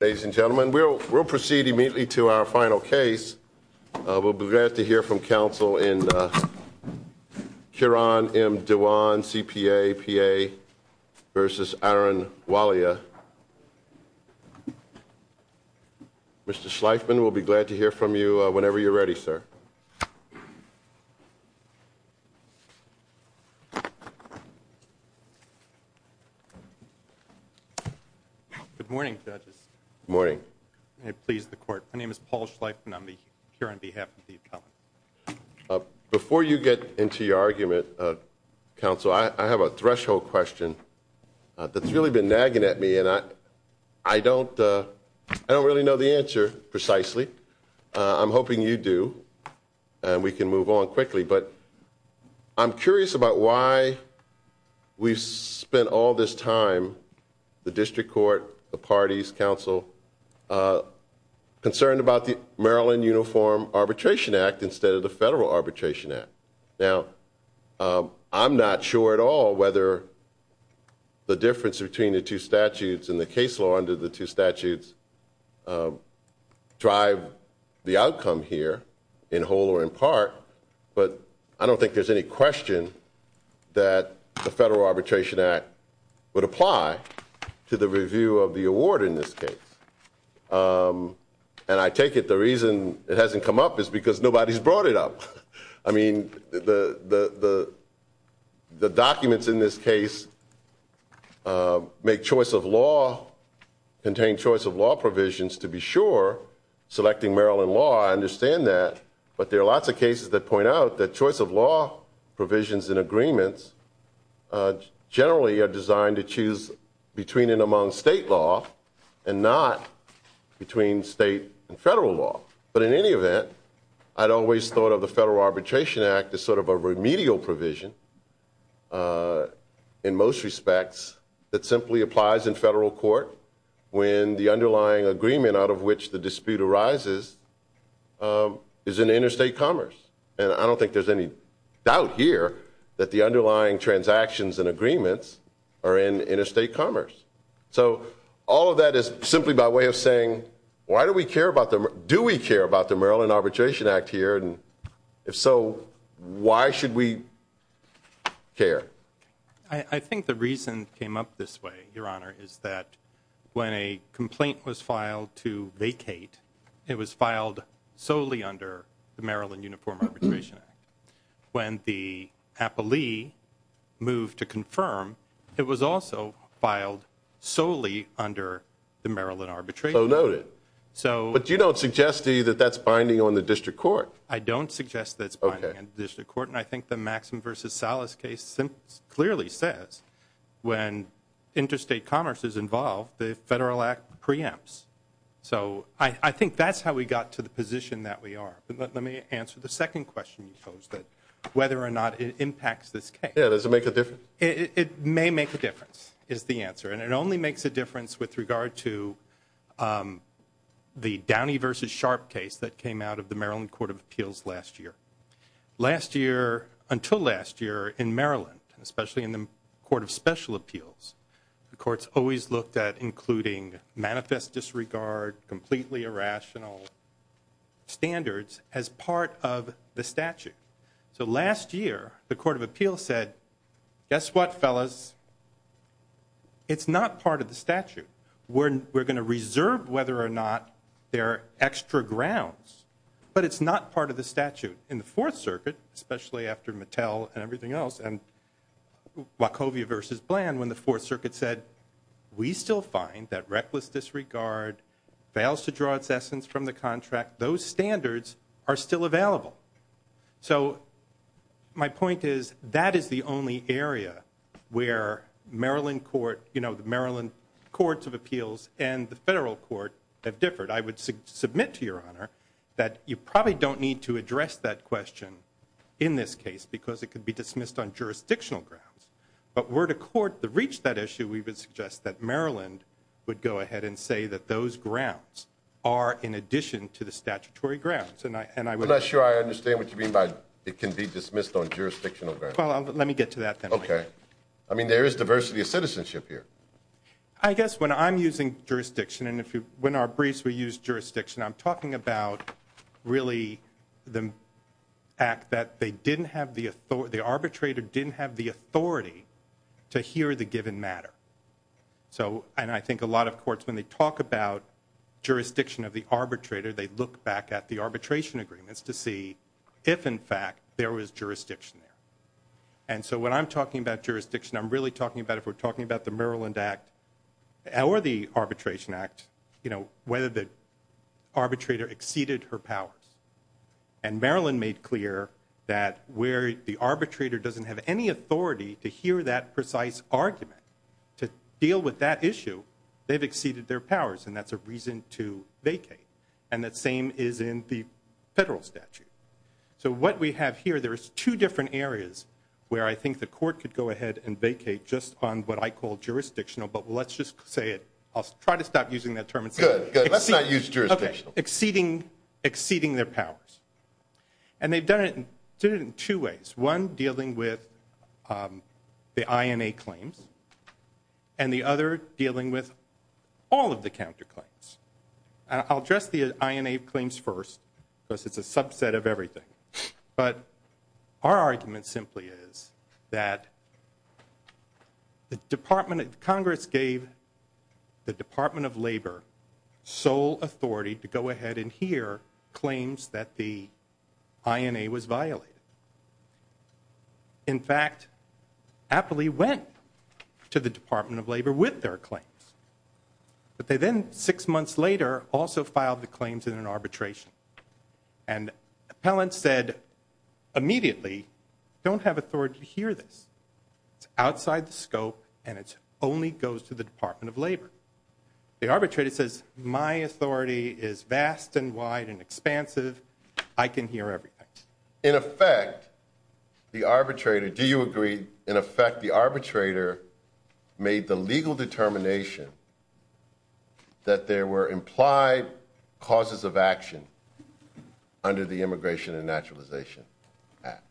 Ladies and gentlemen, we'll proceed immediately to our final case. We'll be glad to hear from counsel in Kiran M. Dewan, CPA, P.A. v. Arun Walia. Mr. Schleifman, we'll be glad to hear from you whenever you're ready, sir. Good morning, judges. Good morning. May it please the court, my name is Paul Schleifman and I'm here on behalf of the appellant. Before you get into your argument, counsel, I have a threshold question that's really been nagging at me and I don't really know the answer precisely. I'm hoping you do and we can move on quickly. But I'm curious about why we've spent all this time, the district court, the parties, counsel, concerned about the Maryland Uniform Arbitration Act instead of the Federal Arbitration Act. Now, I'm not sure at all whether the difference between the two statutes and the case law under the two statutes drive the outcome here in whole or in part, but I don't think there's any question that the Federal Arbitration Act would apply to the review of the award in this case. And I take it the reason it hasn't come up is because nobody's brought it up. I mean, the documents in this case make choice of law, contain choice of law provisions to be sure. Selecting Maryland law, I understand that. But there are lots of cases that point out that choice of law provisions and agreements generally are designed to choose between and among state law and not between state and federal law. But in any event, I'd always thought of the Federal Arbitration Act as sort of a remedial provision in most respects that simply applies in federal court when the underlying agreement out of which the dispute arises is in interstate commerce. And I don't think there's any doubt here that the underlying transactions and agreements are in interstate commerce. So all of that is simply by way of saying, why do we care about them? Do we care about the Maryland Arbitration Act here? And if so, why should we care? I think the reason it came up this way, Your Honor, is that when a complaint was filed to vacate, it was filed solely under the Maryland Uniform Arbitration Act. When the appellee moved to confirm, it was also filed solely under the Maryland Arbitration Act. So noted. But you don't suggest to me that that's binding on the district court. I don't suggest that it's binding on the district court. And I think the Maxim versus Salas case clearly says when interstate commerce is involved, the Federal Act preempts. So I think that's how we got to the position that we are. Let me answer the second question you posed, that whether or not it impacts this case. Yeah, does it make a difference? It may make a difference is the answer. And it only makes a difference with regard to the Downey versus Sharp case that came out of the Maryland Court of Appeals last year. Last year, until last year in Maryland, especially in the Court of Special Appeals, the courts always looked at including manifest disregard, completely irrational standards as part of the statute. So last year, the Court of Appeals said, guess what, fellas? It's not part of the statute. We're going to reserve whether or not there are extra grounds, but it's not part of the statute. especially after Mattel and everything else and Wachovia versus Bland when the Fourth Circuit said, we still find that reckless disregard fails to draw its essence from the contract. Those standards are still available. So my point is that is the only area where Maryland Court, you know, the Maryland Courts of Appeals and the Federal Court have differed. But I would submit to Your Honor that you probably don't need to address that question in this case because it could be dismissed on jurisdictional grounds. But were the court to reach that issue, we would suggest that Maryland would go ahead and say that those grounds are in addition to the statutory grounds. I'm not sure I understand what you mean by it can be dismissed on jurisdictional grounds. Well, let me get to that then. Okay. I mean, there is diversity of citizenship here. I guess when I'm using jurisdiction and when our briefs we use jurisdiction, I'm talking about really the act that the arbitrator didn't have the authority to hear the given matter. And I think a lot of courts, when they talk about jurisdiction of the arbitrator, they look back at the arbitration agreements to see if, in fact, there was jurisdiction there. And so when I'm talking about jurisdiction, I'm really talking about if we're talking about the Maryland Act or the Arbitration Act, you know, whether the arbitrator exceeded her powers. And Maryland made clear that where the arbitrator doesn't have any authority to hear that precise argument to deal with that issue, they've exceeded their powers, and that's a reason to vacate. And the same is in the federal statute. So what we have here, there is two different areas where I think the court could go ahead and vacate just on what I call jurisdictional, but let's just say it. I'll try to stop using that term. Good. Let's not use jurisdictional. Okay. Exceeding their powers. And they've done it in two ways, one dealing with the INA claims and the other dealing with all of the counterclaims. I'll address the INA claims first because it's a subset of everything. But our argument simply is that the Department of Congress gave the Department of Labor sole authority to go ahead and hear claims that the INA was violated. In fact, Apley went to the Department of Labor with their claims. But they then, six months later, also filed the claims in an arbitration. And appellants said immediately, don't have authority to hear this. It's outside the scope, and it only goes to the Department of Labor. The arbitrator says, my authority is vast and wide and expansive. I can hear everything. In effect, the arbitrator, do you agree, in effect, the arbitrator made the legal determination that there were implied causes of action under the Immigration and Naturalization Act.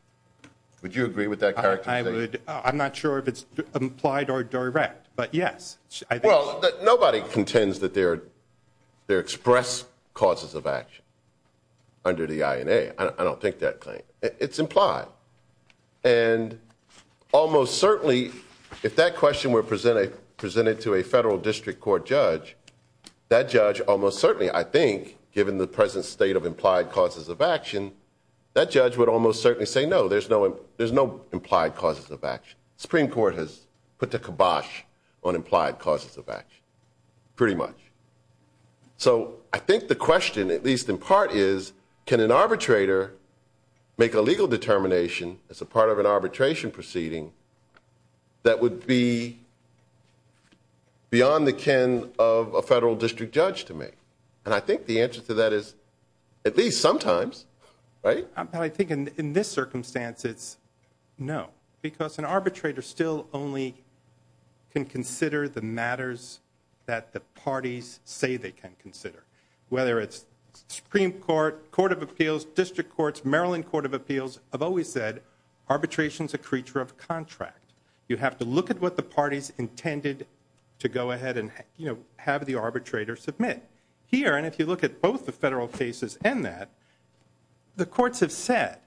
Would you agree with that characterization? I would. I'm not sure if it's implied or direct, but yes. Well, nobody contends that there are expressed causes of action under the INA. I don't think that claim. It's implied. And almost certainly, if that question were presented to a federal district court judge, that judge almost certainly, I think, given the present state of implied causes of action, that judge would almost certainly say no, there's no implied causes of action. The Supreme Court has put the kibosh on implied causes of action, pretty much. So I think the question, at least in part, is can an arbitrator make a legal determination as a part of an arbitration proceeding that would be beyond the kin of a federal district judge to make? And I think the answer to that is at least sometimes, right? Well, I think in this circumstance, it's no, because an arbitrator still only can consider the matters that the parties say they can consider, whether it's Supreme Court, Court of Appeals, District Courts, Maryland Court of Appeals, have always said arbitration is a creature of contract. You have to look at what the parties intended to go ahead and have the arbitrator submit. Here, and if you look at both the federal cases and that, the courts have said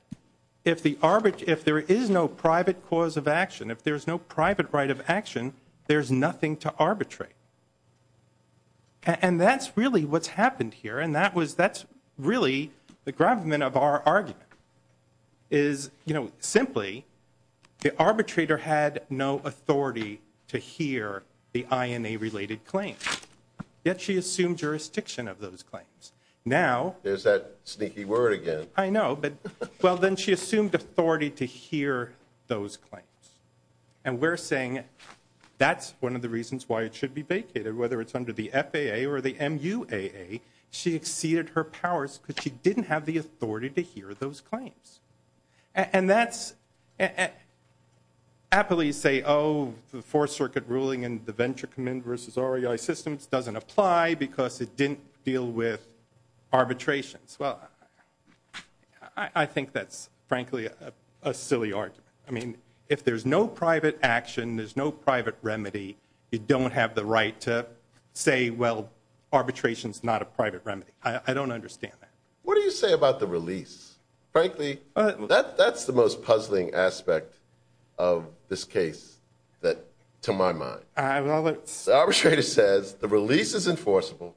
if there is no private cause of action, if there's no private right of action, there's nothing to arbitrate. And that's really what's happened here, and that's really the gravamen of our argument, is simply the arbitrator had no authority to hear the INA-related claims. Yet she assumed jurisdiction of those claims. Now... There's that sneaky word again. I know, but, well, then she assumed authority to hear those claims. And we're saying that's one of the reasons why it should be vacated, whether it's under the FAA or the MUAA. She exceeded her powers because she didn't have the authority to hear those claims. And that's... Happily, you say, oh, the Fourth Circuit ruling and the Venture Commitment versus REI systems doesn't apply because it didn't deal with arbitrations. Well, I think that's frankly a silly argument. I mean, if there's no private action, there's no private remedy, you don't have the right to say, well, arbitration's not a private remedy. I don't understand that. What do you say about the release? Frankly, that's the most puzzling aspect of this case to my mind. All right, well, let's... The arbitrator says the release is enforceable,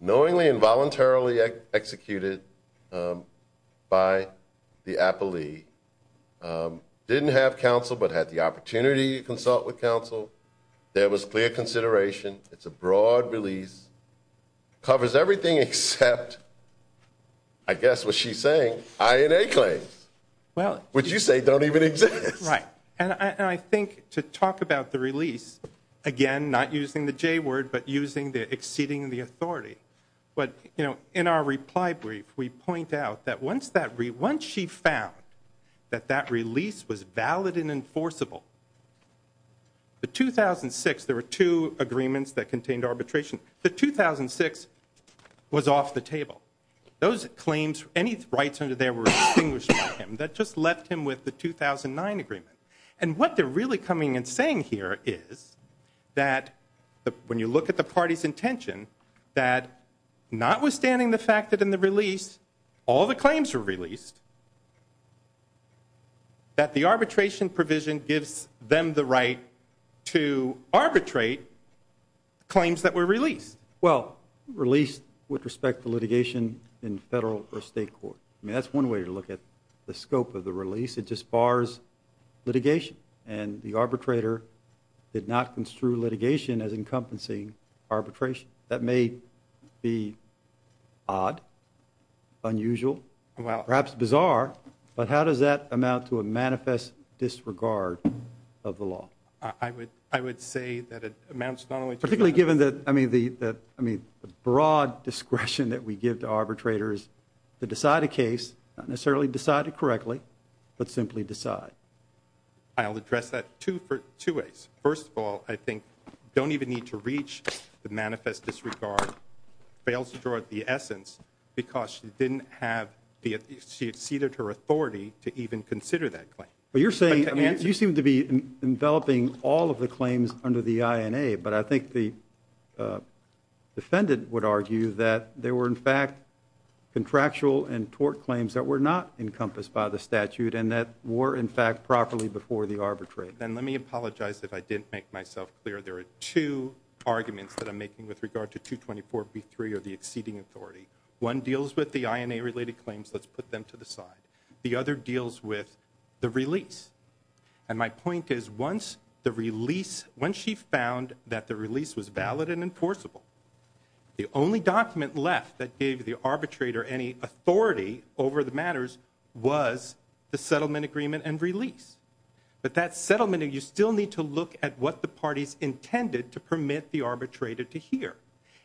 knowingly and voluntarily executed by the appellee, didn't have counsel but had the opportunity to consult with counsel. There was clear consideration. It's a broad release. It covers everything except, I guess, what she's saying, INA claims, which you say don't even exist. Right. And I think to talk about the release, again, not using the J word but using the exceeding the authority, but in our reply brief, we point out that once she found that that release was valid and enforceable, the 2006, there were two agreements that contained arbitration. The 2006 was off the table. Those claims, any rights under there were extinguished by him. That just left him with the 2009 agreement. And what they're really coming and saying here is that when you look at the party's intention, that notwithstanding the fact that in the release all the claims were released, that the arbitration provision gives them the right to arbitrate claims that were released. Well, released with respect to litigation in federal or state court. I mean, that's one way to look at the scope of the release. It just bars litigation. And the arbitrator did not construe litigation as encompassing arbitration. That may be odd, unusual. Perhaps bizarre. But how does that amount to a manifest disregard of the law? I would say that it amounts not only to that. Particularly given the broad discretion that we give to arbitrators to decide a case, not necessarily decide it correctly, but simply decide. I'll address that two ways. First of all, I think you don't even need to reach the manifest disregard. Fails to draw the essence because she exceeded her authority to even consider that claim. You seem to be enveloping all of the claims under the INA, but I think the defendant would argue that there were, in fact, contractual and tort claims that were not encompassed by the statute and that were, in fact, properly before the arbitrator. And let me apologize if I didn't make myself clear. There are two arguments that I'm making with regard to 224B3 or the exceeding authority. One deals with the INA-related claims. Let's put them to the side. The other deals with the release. And my point is once the release, once she found that the release was valid and enforceable, the only document left that gave the arbitrator any authority over the matters was the settlement agreement and release. But that settlement, you still need to look at what the parties intended to permit the arbitrator to hear.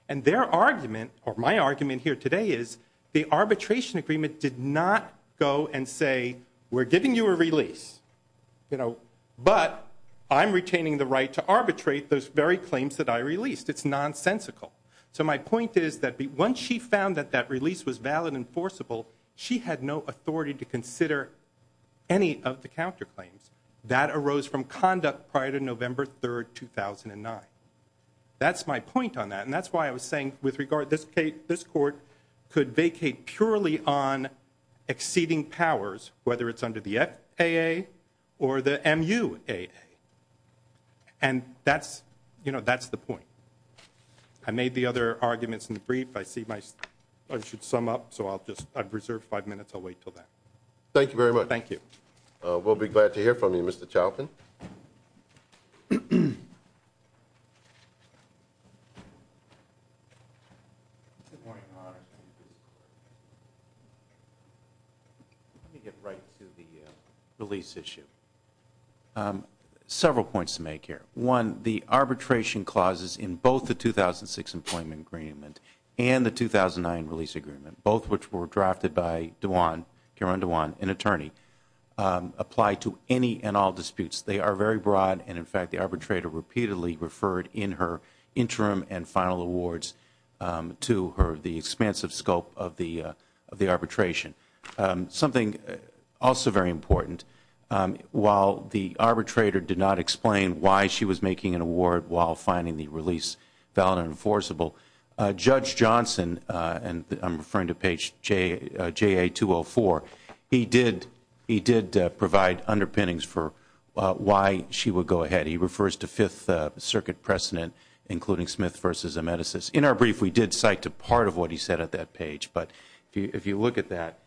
And their argument or my argument here today is the arbitration agreement did not go and say, we're giving you a release, you know, but I'm retaining the right to arbitrate those very claims that I released. It's nonsensical. So my point is that once she found that that release was valid and enforceable, she had no authority to consider any of the counterclaims. That arose from conduct prior to November 3, 2009. That's my point on that, and that's why I was saying with regard, this court could vacate purely on exceeding powers, whether it's under the FAA or the MUAA. And that's, you know, that's the point. I made the other arguments in the brief. I see my, I should sum up, so I'll just, I've reserved five minutes. I'll wait until then. Thank you very much. Thank you. We'll be glad to hear from you, Mr. Charlton. Let me get right to the release issue. Several points to make here. One, the arbitration clauses in both the 2006 employment agreement and the 2009 release agreement, both which were drafted by DeJuan, Karen DeJuan, an attorney, apply to any and all disputes. They are very broad, and, in fact, the arbitrator repeatedly referred in her interim and final awards to her, the expansive scope of the arbitration. Something also very important. While the arbitrator did not explain why she was making an award while finding the release valid and enforceable, Judge Johnson, and I'm referring to page JA204, he did provide underpinnings for why she would go ahead. He refers to Fifth Circuit precedent, including Smith v. Amedesis. In our brief, we did cite a part of what he said at that page. But if you look at that,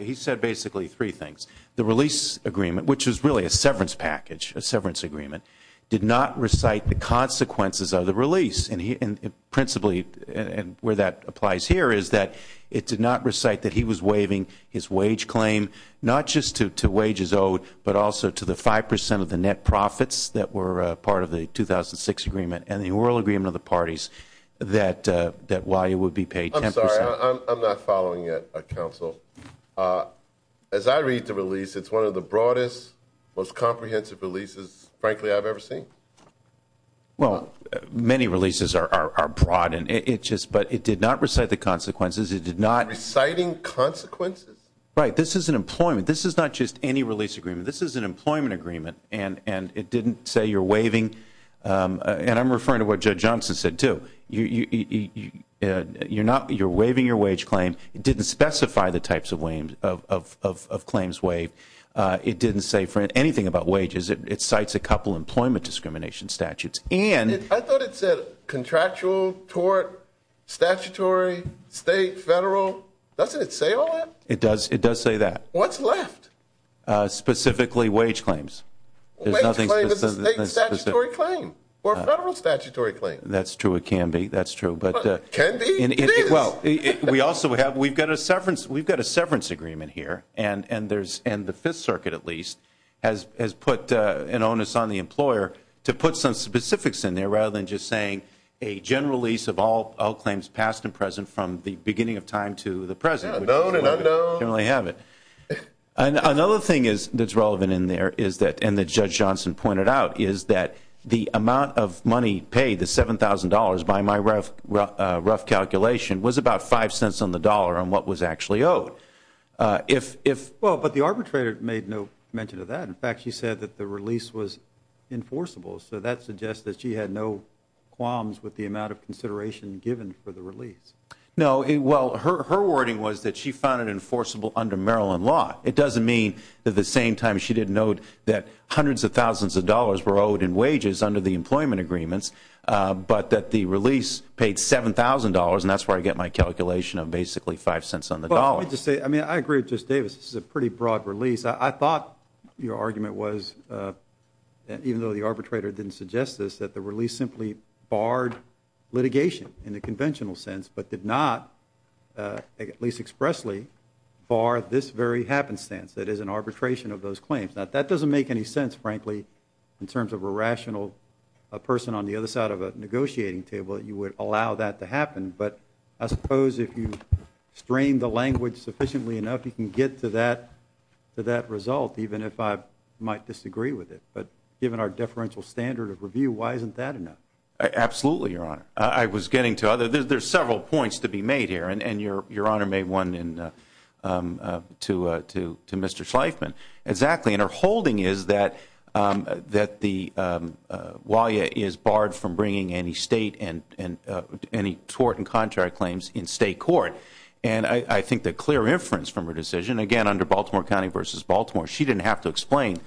he said basically three things. The release agreement, which was really a severance package, a severance agreement, did not recite the consequences of the release, and principally where that applies here is that it did not recite that he was waiving his wage claim, not just to wages owed but also to the 5% of the net profits that were part of the 2006 agreement and the oral agreement of the parties that while you would be paid 10%. I'm sorry. I'm not following yet, Counsel. As I read the release, it's one of the broadest, most comprehensive releases, frankly, I've ever seen. Well, many releases are broad, but it did not recite the consequences. It did not. Reciting consequences? Right. This is an employment. This is not just any release agreement. This is an employment agreement, and it didn't say you're waiving. And I'm referring to what Judge Johnson said, too. You're waiving your wage claim. It didn't specify the types of claims waived. It didn't say anything about wages. It cites a couple employment discrimination statutes. I thought it said contractual, tort, statutory, state, federal. Doesn't it say all that? It does say that. What's left? Specifically wage claims. Wage claims is a state statutory claim or a federal statutory claim. That's true. It can be. That's true. Can it be? It is. Well, we've got a severance agreement here, and the Fifth Circuit, at least, has put an onus on the employer to put some specifics in there rather than just saying a general lease of all claims past and present from the beginning of time to the present. Known and unknown. We don't really have it. Another thing that's relevant in there, and that Judge Johnson pointed out, is that the amount of money paid, the $7,000, by my rough calculation, was about five cents on the dollar on what was actually owed. Well, but the arbitrator made no mention of that. In fact, she said that the release was enforceable. So that suggests that she had no qualms with the amount of consideration given for the release. No. Well, her wording was that she found it enforceable under Maryland law. It doesn't mean that at the same time she didn't note that hundreds of thousands of dollars were owed in wages under the employment agreements, but that the release paid $7,000, and that's where I get my calculation of basically five cents on the dollar. Well, let me just say, I mean, I agree with Justice Davis. This is a pretty broad release. I thought your argument was, even though the arbitrator didn't suggest this, that the release simply barred litigation in the conventional sense, but did not, at least expressly, bar this very happenstance, that is an arbitration of those claims. Now, that doesn't make any sense, frankly, in terms of a rational person on the other side of a negotiating table, that you would allow that to happen. But I suppose if you strain the language sufficiently enough, you can get to that result, even if I might disagree with it. But given our deferential standard of review, why isn't that enough? Absolutely, Your Honor. I was getting to others. There's several points to be made here, and Your Honor made one to Mr. Schleifman. Exactly. And her holding is that Walia is barred from bringing any state and any tort and contract claims in state court. And I think the clear inference from her decision, again, under Baltimore County v. Baltimore, she didn't have to explain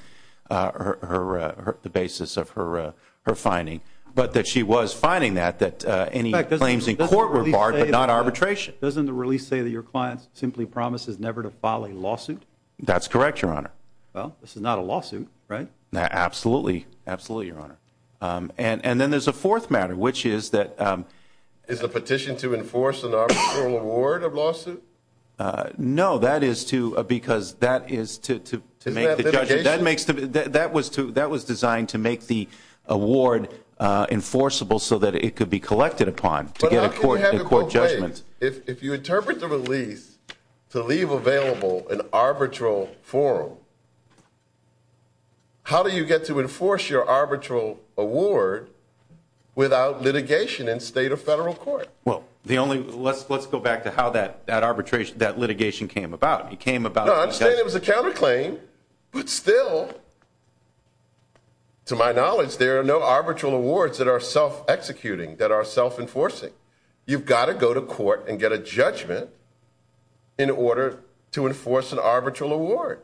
the basis of her finding, but that she was finding that any claims in court were barred, but not arbitration. Doesn't the release say that your client simply promises never to file a lawsuit? That's correct, Your Honor. Well, this is not a lawsuit, right? Absolutely. Absolutely, Your Honor. And then there's a fourth matter, which is that- Is the petition to enforce an arbitral award of lawsuit? No, that is to- Isn't that litigation? That was designed to make the award enforceable so that it could be collected upon to get a court judgment. If you interpret the release to leave available an arbitral forum, how do you get to enforce your arbitral award without litigation in state or federal court? Well, let's go back to how that litigation came about. No, I understand it was a counterclaim, but still, to my knowledge, there are no arbitral awards that are self-executing, that are self-enforcing. You've got to go to court and get a judgment in order to enforce an arbitral award.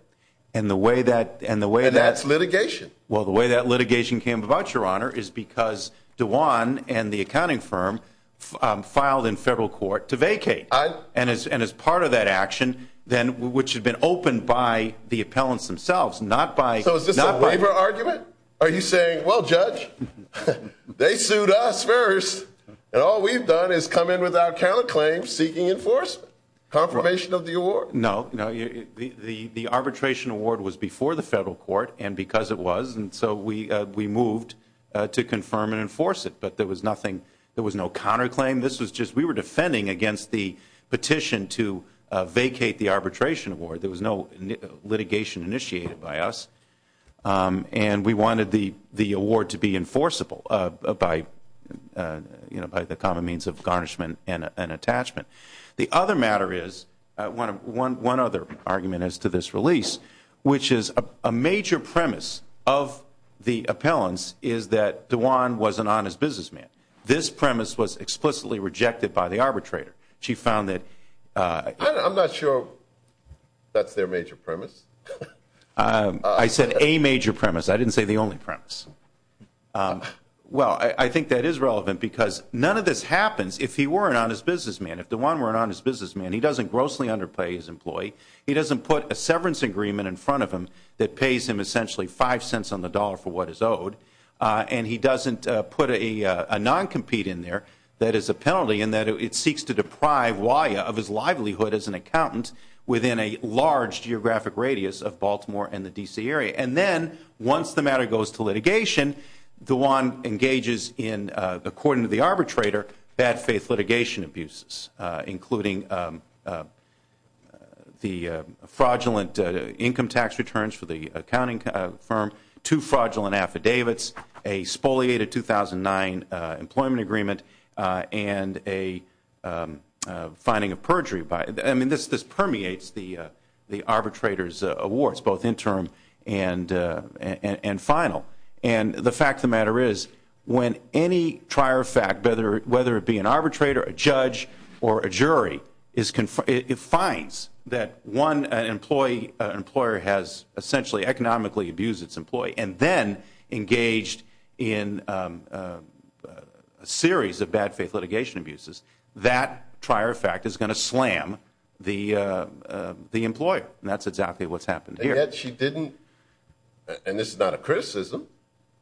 And that's litigation. Well, the way that litigation came about, Your Honor, is because Dewan and the accounting firm filed in federal court to vacate. And as part of that action, which had been opened by the appellants themselves, not by- So is this a waiver argument? Are you saying, well, Judge, they sued us first, and all we've done is come in without counterclaim seeking enforcement? Confirmation of the award? No. The arbitration award was before the federal court, and because it was, and so we moved to confirm and enforce it. But there was no counterclaim. This was just, we were defending against the petition to vacate the arbitration award. There was no litigation initiated by us. And we wanted the award to be enforceable by the common means of garnishment and attachment. The other matter is, one other argument as to this release, which is a major premise of the appellants is that Dewan was an honest businessman. This premise was explicitly rejected by the arbitrator. She found that- I'm not sure that's their major premise. I said a major premise. I didn't say the only premise. Well, I think that is relevant because none of this happens if he were an honest businessman. If Dewan were an honest businessman, he doesn't grossly underpay his employee. He doesn't put a severance agreement in front of him that pays him essentially five cents on the dollar for what he's owed. And he doesn't put a non-compete in there that is a penalty in that it seeks to deprive Wya of his livelihood as an accountant within a large geographic radius of Baltimore and the D.C. area. And then once the matter goes to litigation, Dewan engages in, according to the arbitrator, bad faith litigation abuses, including the fraudulent income tax returns for the accounting firm, two fraudulent affidavits, a spoliated 2009 employment agreement, and a finding of perjury. I mean, this permeates the arbitrator's awards, both interim and final. And the fact of the matter is when any trier of fact, whether it be an arbitrator, a judge, or a jury, it finds that one employer has essentially economically abused its employee and then engaged in a series of bad faith litigation abuses, that trier of fact is going to slam the employer. And that's exactly what's happened here. And yet she didn't, and this is not a criticism,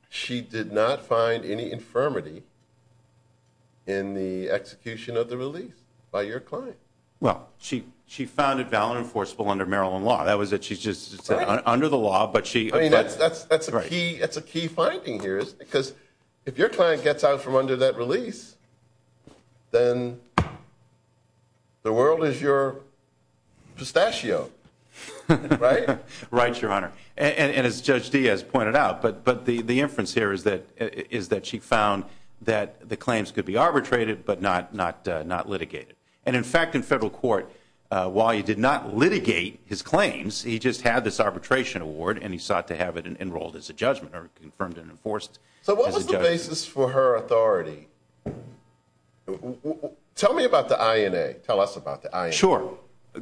she did not find any infirmity in the execution of the release by your client. Well, she found it valid and enforceable under Maryland law. That was it, she just said under the law, but she... I mean, that's a key finding here is because if your client gets out from under that release, then the world is your pistachio, right? Right, Your Honor. And as Judge Diaz pointed out, but the inference here is that she found that the claims could be arbitrated, but not litigated. And in fact, in federal court, while he did not litigate his claims, he just had this arbitration award and he sought to have it enrolled as a judgment or confirmed and enforced as a judgment. On the basis for her authority, tell me about the INA. Tell us about the INA. Sure.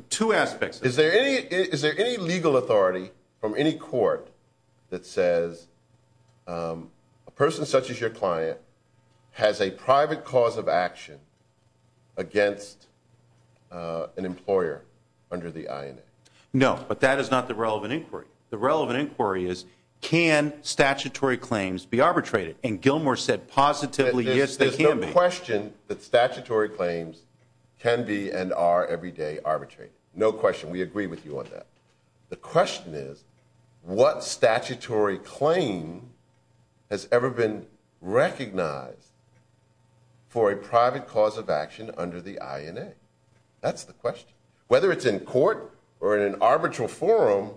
Two aspects. Is there any legal authority from any court that says a person such as your client has a private cause of action against an employer under the INA? No, but that is not the relevant inquiry. The relevant inquiry is can statutory claims be arbitrated? And Gilmore said positively, yes, they can be. There's no question that statutory claims can be and are every day arbitrated. No question. We agree with you on that. The question is what statutory claim has ever been recognized for a private cause of action under the INA? That's the question. Whether it's in court or in an arbitral forum,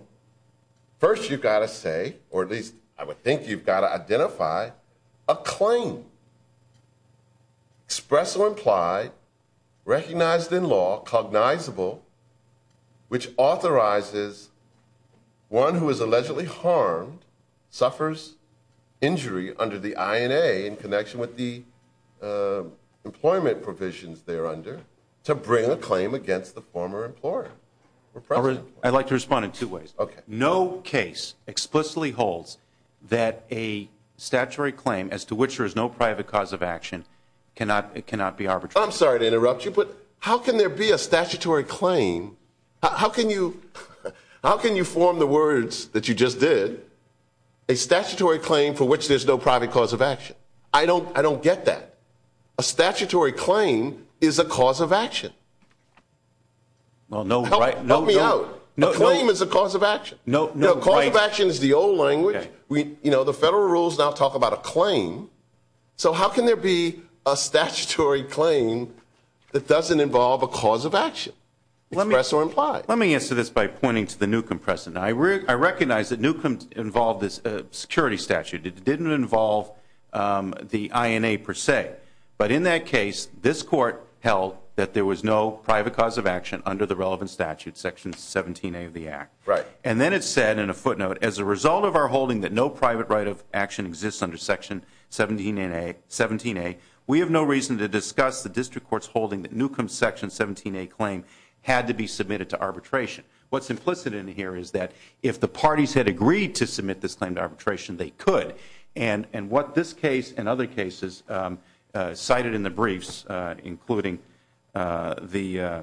first you've got to say, or at least I would think you've got to identify, a claim, express or implied, recognized in law, cognizable, which authorizes one who is allegedly harmed, suffers injury under the INA in connection with the employment provisions they're under, to bring a claim against the former employer or present employer. I'd like to respond in two ways. Okay. No case explicitly holds that a statutory claim as to which there is no private cause of action cannot be arbitrated. I'm sorry to interrupt you, but how can there be a statutory claim? How can you form the words that you just did, a statutory claim for which there's no private cause of action? I don't get that. A statutory claim is a cause of action. Well, no, right. Help me out. No, no. A claim is a cause of action. No, no. A cause of action is the old language. You know, the federal rules now talk about a claim. So how can there be a statutory claim that doesn't involve a cause of action, express or implied? Let me answer this by pointing to the Newcombe precedent. I recognize that Newcombe involved this security statute. It didn't involve the INA per se. But in that case, this court held that there was no private cause of action under the relevant statute, Section 17A of the Act. Right. And then it said in a footnote, as a result of our holding that no private right of action exists under Section 17A, we have no reason to discuss the district court's holding that Newcombe's Section 17A claim had to be submitted to arbitration. What's implicit in here is that if the parties had agreed to submit this claim to arbitration, they could. And what this case and other cases cited in the briefs, including the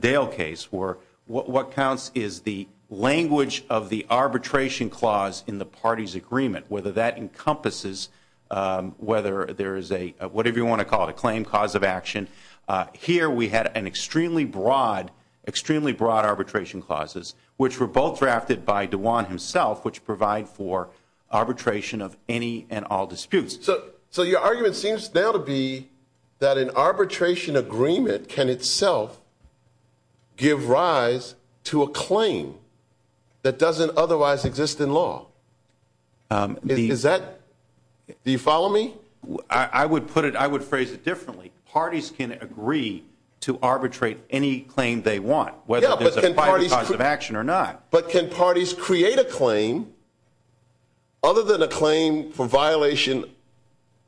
Dale case, were what counts is the language of the arbitration clause in the party's agreement, whether that encompasses whether there is a whatever you want to call it, a claim cause of action. Here we had an extremely broad, extremely broad arbitration clauses, which were both drafted by DeJuan himself, which provide for arbitration of any and all disputes. So your argument seems now to be that an arbitration agreement can itself give rise to a claim that doesn't otherwise exist in law. Do you follow me? I would phrase it differently. Parties can agree to arbitrate any claim they want, whether there's a private cause of action or not. But can parties create a claim other than a claim for violation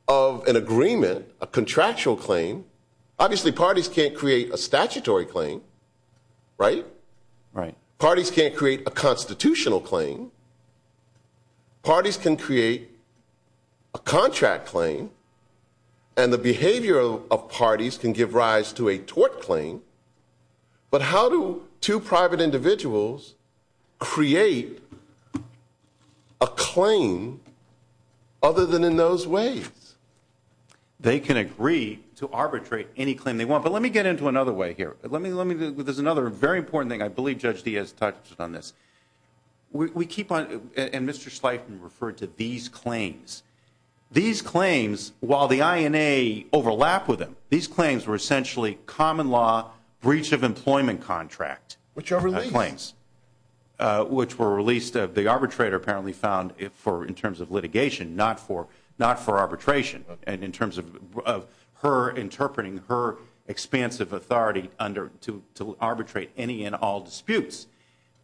of an agreement, a contractual claim? Obviously, parties can't create a statutory claim, right? Right. Parties can't create a constitutional claim. Parties can create a contract claim. And the behavior of parties can give rise to a tort claim. But how do two private individuals create a claim other than in those ways? They can agree to arbitrate any claim they want. But let me get into another way here. There's another very important thing. I believe Judge Diaz touched on this. And Mr. Sleipman referred to these claims. These claims, while the INA overlap with them, these claims were essentially common law breach of employment contract claims. Which are released. Which were released. The arbitrator apparently found, in terms of litigation, not for arbitration. And in terms of her interpreting her expansive authority to arbitrate any and all disputes.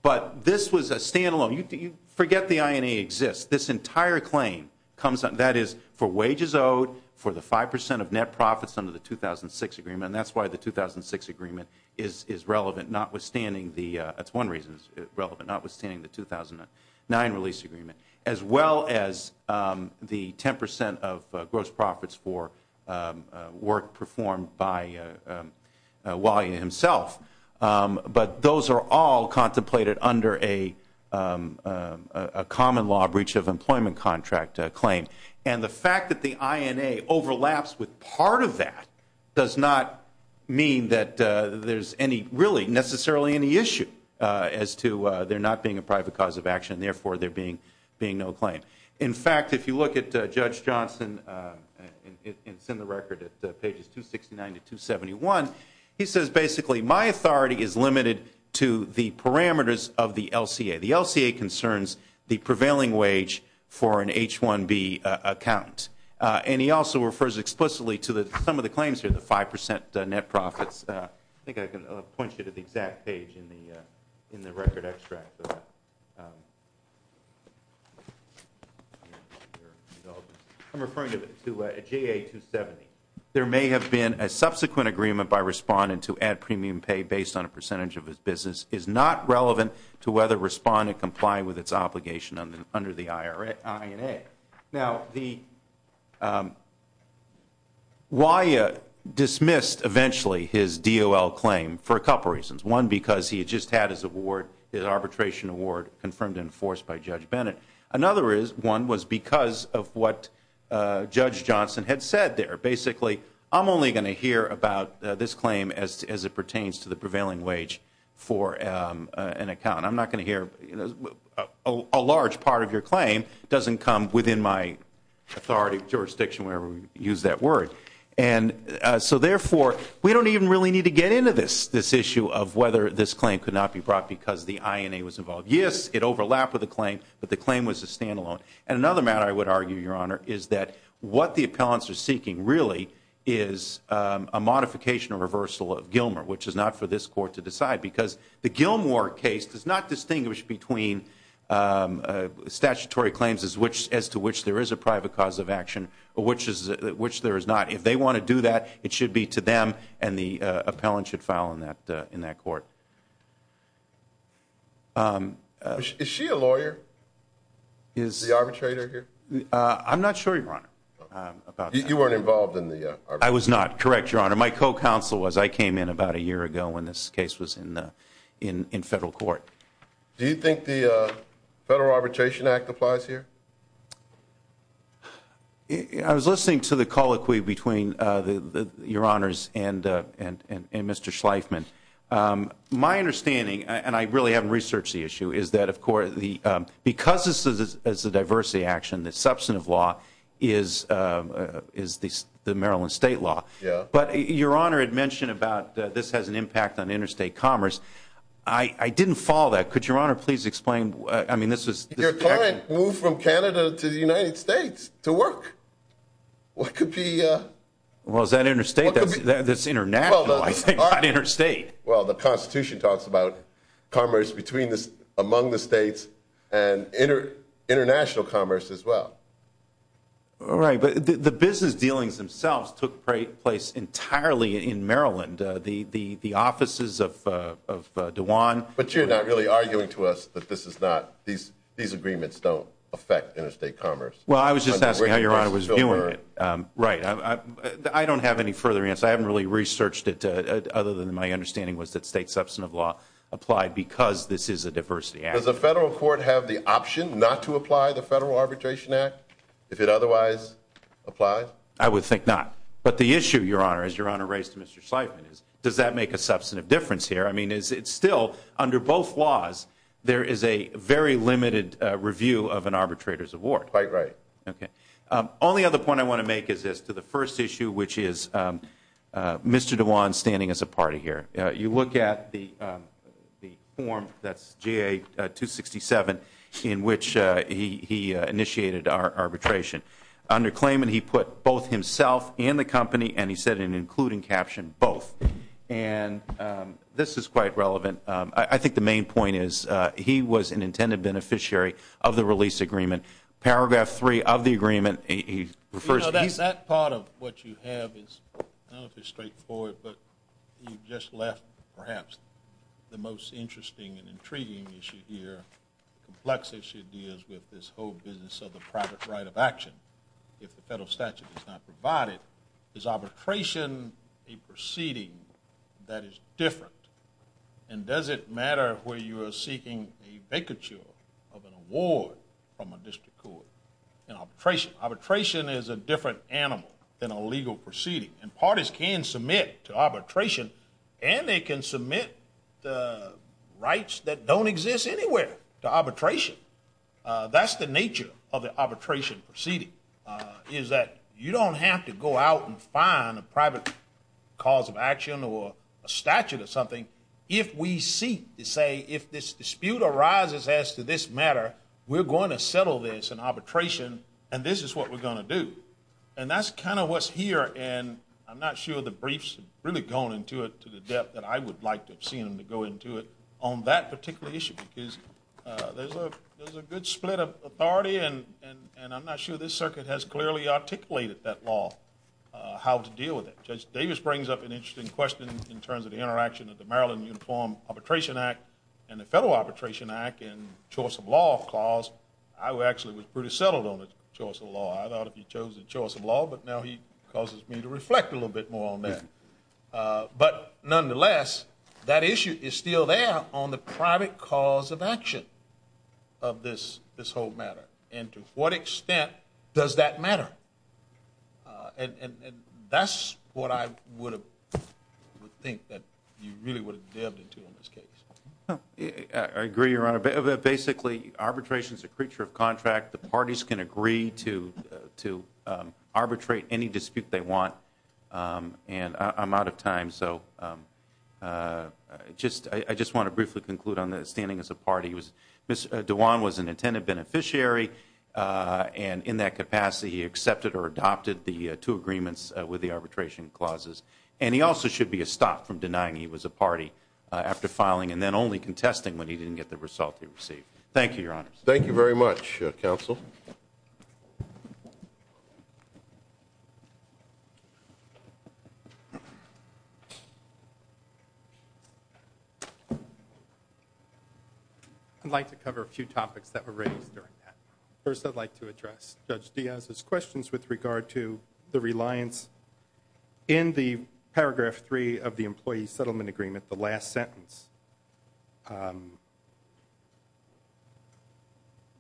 But this was a standalone. Forget the INA exists. This entire claim comes out. That is for wages owed, for the 5% of net profits under the 2006 agreement. And that's why the 2006 agreement is relevant, notwithstanding the 2009 release agreement. As well as the 10% of gross profits for work performed by Wally himself. But those are all contemplated under a common law breach of employment contract claim. And the fact that the INA overlaps with part of that does not mean that there's any, really, necessarily any issue. As to there not being a private cause of action. Therefore, there being no claim. In fact, if you look at Judge Johnson, it's in the record at pages 269 to 271. He says, basically, my authority is limited to the parameters of the LCA. The LCA concerns the prevailing wage for an H-1B account. And he also refers explicitly to some of the claims here, the 5% net profits. I think I can point you to the exact page in the record extract. I'm referring to JA-270. There may have been a subsequent agreement by Respondent to add premium pay based on a percentage of his business. It is not relevant to whether Respondent complied with its obligation under the INA. Now, Wally dismissed, eventually, his DOL claim for a couple reasons. One, because he had just had his arbitration award confirmed and enforced by Judge Bennett. Another one was because of what Judge Johnson had said there. Basically, I'm only going to hear about this claim as it pertains to the prevailing wage for an account. I'm not going to hear a large part of your claim doesn't come within my authority, jurisdiction, whatever you use that word. And so, therefore, we don't even really need to get into this, this issue of whether this claim could not be brought because the INA was involved. Yes, it overlapped with the claim, but the claim was a standalone. And another matter I would argue, Your Honor, is that what the appellants are seeking, really, is a modification or reversal of Gilmore, which is not for this Court to decide, because the Gilmore case does not distinguish between statutory claims as to which there is a private cause of action or which there is not. If they want to do that, it should be to them, and the appellant should file in that court. Is she a lawyer, the arbitrator here? I'm not sure, Your Honor, about that. You weren't involved in the arbitration? I was not, correct, Your Honor. My co-counsel was. I came in about a year ago when this case was in federal court. Do you think the Federal Arbitration Act applies here? I was listening to the colloquy between Your Honors and Mr. Schleifman. My understanding, and I really haven't researched the issue, is that, of course, because this is a diversity action, the substantive law is the Maryland state law. But Your Honor had mentioned about this has an impact on interstate commerce. I didn't follow that. Could Your Honor please explain? Your client moved from Canada to the United States to work. What could be? Well, is that interstate? That's international, I think, not interstate. Well, the Constitution talks about commerce among the states and international commerce as well. All right, but the business dealings themselves took place entirely in Maryland. But you're not really arguing to us that these agreements don't affect interstate commerce? Well, I was just asking how Your Honor was viewing it. Right. I don't have any further answer. I haven't really researched it other than my understanding was that state substantive law applied because this is a diversity action. Does the federal court have the option not to apply the Federal Arbitration Act if it otherwise applied? I would think not. But the issue, Your Honor, as Your Honor raised to Mr. Sleifman, is does that make a substantive difference here? I mean, it's still under both laws there is a very limited review of an arbitrator's award. Quite right. Okay. Only other point I want to make is as to the first issue, which is Mr. DeJuan standing as a party here. You look at the form that's GA-267 in which he initiated arbitration. Under claimant, he put both himself and the company, and he said in an including caption, both. And this is quite relevant. I think the main point is he was an intended beneficiary of the release agreement. Paragraph three of the agreement, he refers to he's You know, that part of what you have is, I don't know if it's straightforward, but you just left perhaps the most interesting and intriguing issue here, complex issue deals with this whole business of the private right of action. If the federal statute is not provided, is arbitration a proceeding that is different? And does it matter where you are seeking a vacature of an award from a district court in arbitration? Arbitration is a different animal than a legal proceeding. And parties can submit to arbitration, and they can submit the rights that don't exist anywhere to arbitration. That's the nature of the arbitration proceeding, is that you don't have to go out and find a private cause of action or a statute or something if we seek to say if this dispute arises as to this matter, we're going to settle this in arbitration, and this is what we're going to do. And that's kind of what's here, and I'm not sure the briefs have really gone into it to the depth that I would like to have seen them to go into it on that particular issue, because there's a good split of authority, and I'm not sure this circuit has clearly articulated that law, how to deal with it. Judge Davis brings up an interesting question in terms of the interaction of the Maryland Uniform Arbitration Act and the Federal Arbitration Act and choice of law clause. I actually was pretty settled on the choice of law. I thought if he chose the choice of law, but now he causes me to reflect a little bit more on that. But nonetheless, that issue is still there on the private cause of action of this whole matter, and to what extent does that matter? And that's what I would think that you really would have delved into in this case. I agree, Your Honor. Basically, arbitration is a creature of contract. The parties can agree to arbitrate any dispute they want, and I'm out of time, so I just want to briefly conclude on standing as a party. Mr. Dewan was an intended beneficiary, and in that capacity he accepted or adopted the two agreements with the arbitration clauses. And he also should be stopped from denying he was a party after filing and then only contesting when he didn't get the result he received. Thank you, Your Honor. Thank you very much, Counsel. I'd like to cover a few topics that were raised during that. First, I'd like to address Judge Diaz's questions with regard to the reliance in the paragraph 3 of the employee settlement agreement, the last sentence.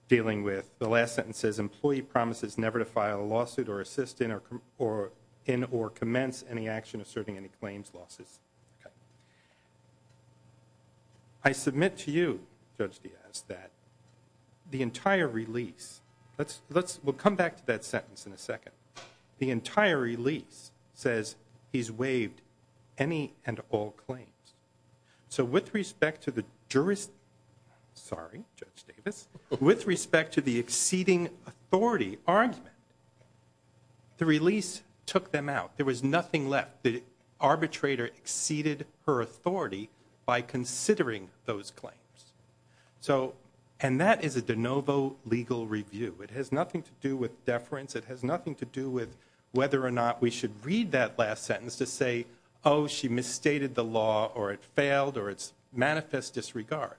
Dealing with the last sentence says, employee promises never to file a lawsuit or assist in or commence any action asserting any claims losses. I submit to you, Judge Diaz, that the entire release, we'll come back to that sentence in a second, the entire release says he's waived any and all claims. So with respect to the jurisdiction, sorry, Judge Davis, with respect to the exceeding authority argument, the release took them out. There was nothing left. The arbitrator exceeded her authority by considering those claims. And that is a de novo legal review. It has nothing to do with deference. It has nothing to do with whether or not we should read that last sentence to say, oh, she misstated the law or it failed or it's manifest disregard.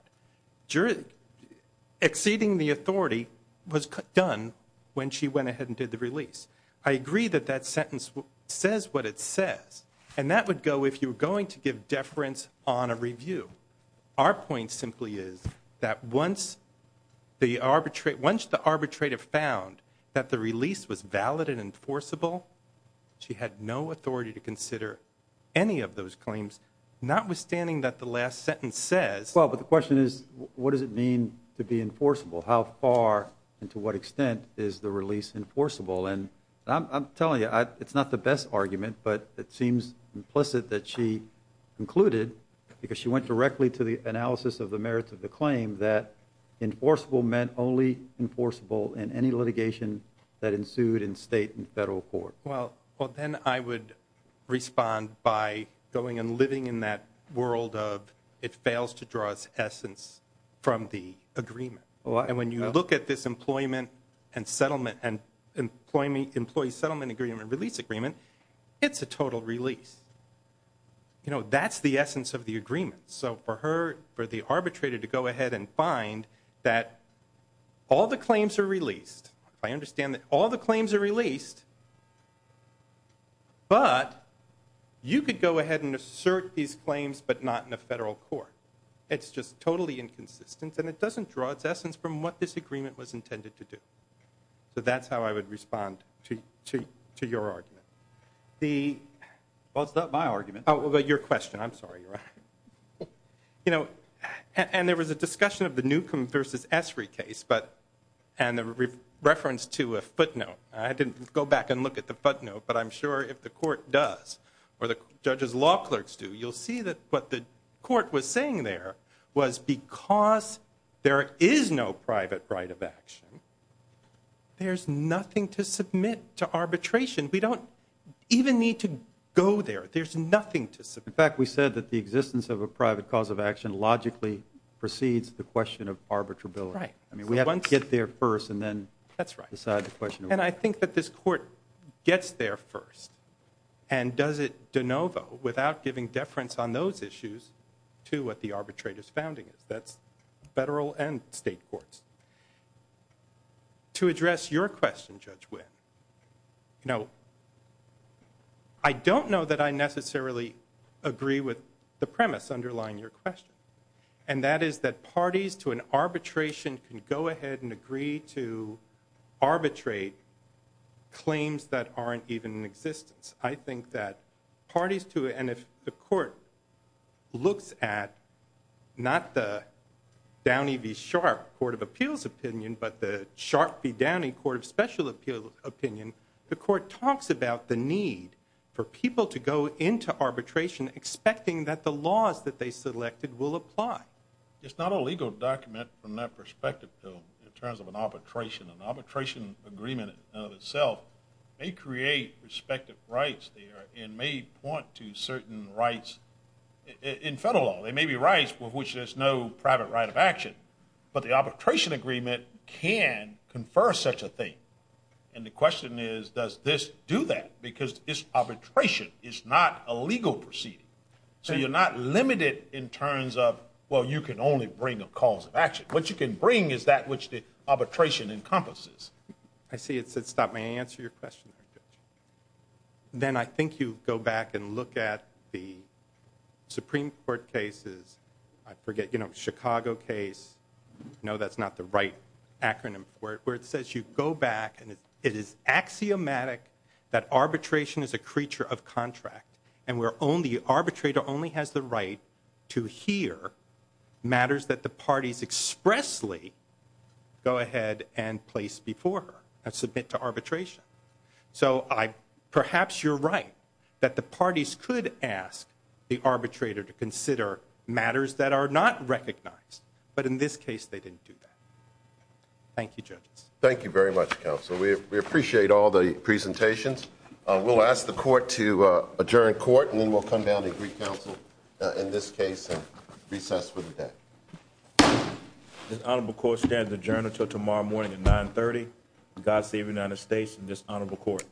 Exceeding the authority was done when she went ahead and did the release. I agree that that sentence says what it says, and that would go if you were going to give deference on a review. Our point simply is that once the arbitrator found that the release was valid and enforceable, she had no authority to consider any of those claims, notwithstanding that the last sentence says. Well, but the question is, what does it mean to be enforceable? How far and to what extent is the release enforceable? And I'm telling you, it's not the best argument, but it seems implicit that she concluded, because she went directly to the analysis of the merits of the claim, that enforceable meant only enforceable in any litigation that ensued in state and federal court. Well, then I would respond by going and living in that world of it fails to draw its essence from the agreement. And when you look at this employment and settlement and employee settlement agreement release agreement, it's a total release. You know, that's the essence of the agreement. So for her, for the arbitrator to go ahead and find that all the claims are released. I understand that all the claims are released. But you could go ahead and assert these claims, but not in a federal court. It's just totally inconsistent, and it doesn't draw its essence from what this agreement was intended to do. So that's how I would respond to your argument. Well, it's not my argument. Oh, well, your question. I'm sorry, Your Honor. You know, and there was a discussion of the Newcomb v. Esri case, and the reference to a footnote. I didn't go back and look at the footnote, but I'm sure if the court does, or the judge's law clerks do, you'll see that what the court was saying there was because there is no private right of action, there's nothing to submit to arbitration. We don't even need to go there. There's nothing to submit. In fact, we said that the existence of a private cause of action logically precedes the question of arbitrability. Right. I mean, we have to get there first and then decide the question. And does it de novo, without giving deference on those issues, to what the arbitrator's founding is? That's federal and state courts. To address your question, Judge Winn, you know, I don't know that I necessarily agree with the premise underlying your question, and that is that parties to an arbitration can go ahead and agree to arbitrate claims that aren't even in existence. I think that parties to it, and if the court looks at not the Downey v. Sharp Court of Appeals opinion, but the Sharp v. Downey Court of Special Appeals opinion, the court talks about the need for people to go into arbitration expecting that the laws that they selected will apply. It's not a legal document from that perspective, though, in terms of an arbitration. An arbitration agreement in and of itself may create respective rights there and may point to certain rights in federal law. There may be rights with which there's no private right of action, but the arbitration agreement can confer such a thing. And the question is, does this do that? Because arbitration is not a legal proceeding. So you're not limited in terms of, well, you can only bring a cause of action. What you can bring is that which the arbitration encompasses. I see it said stop. May I answer your question, Judge? Then I think you go back and look at the Supreme Court cases. I forget, you know, Chicago case. No, that's not the right acronym for it, where it says you go back and it is axiomatic that arbitration is a creature of contract and where only the arbitrator only has the right to hear matters that the parties expressly go ahead and place before her and submit to arbitration. So perhaps you're right that the parties could ask the arbitrator to consider matters that are not recognized. But in this case, they didn't do that. Thank you, Judges. Thank you very much, Counsel. We appreciate all the presentations. We'll ask the court to adjourn court, and then we'll come down and recounsel in this case and recess for the day. This honorable court stands adjourned until tomorrow morning at 930. God save the United States and this honorable court.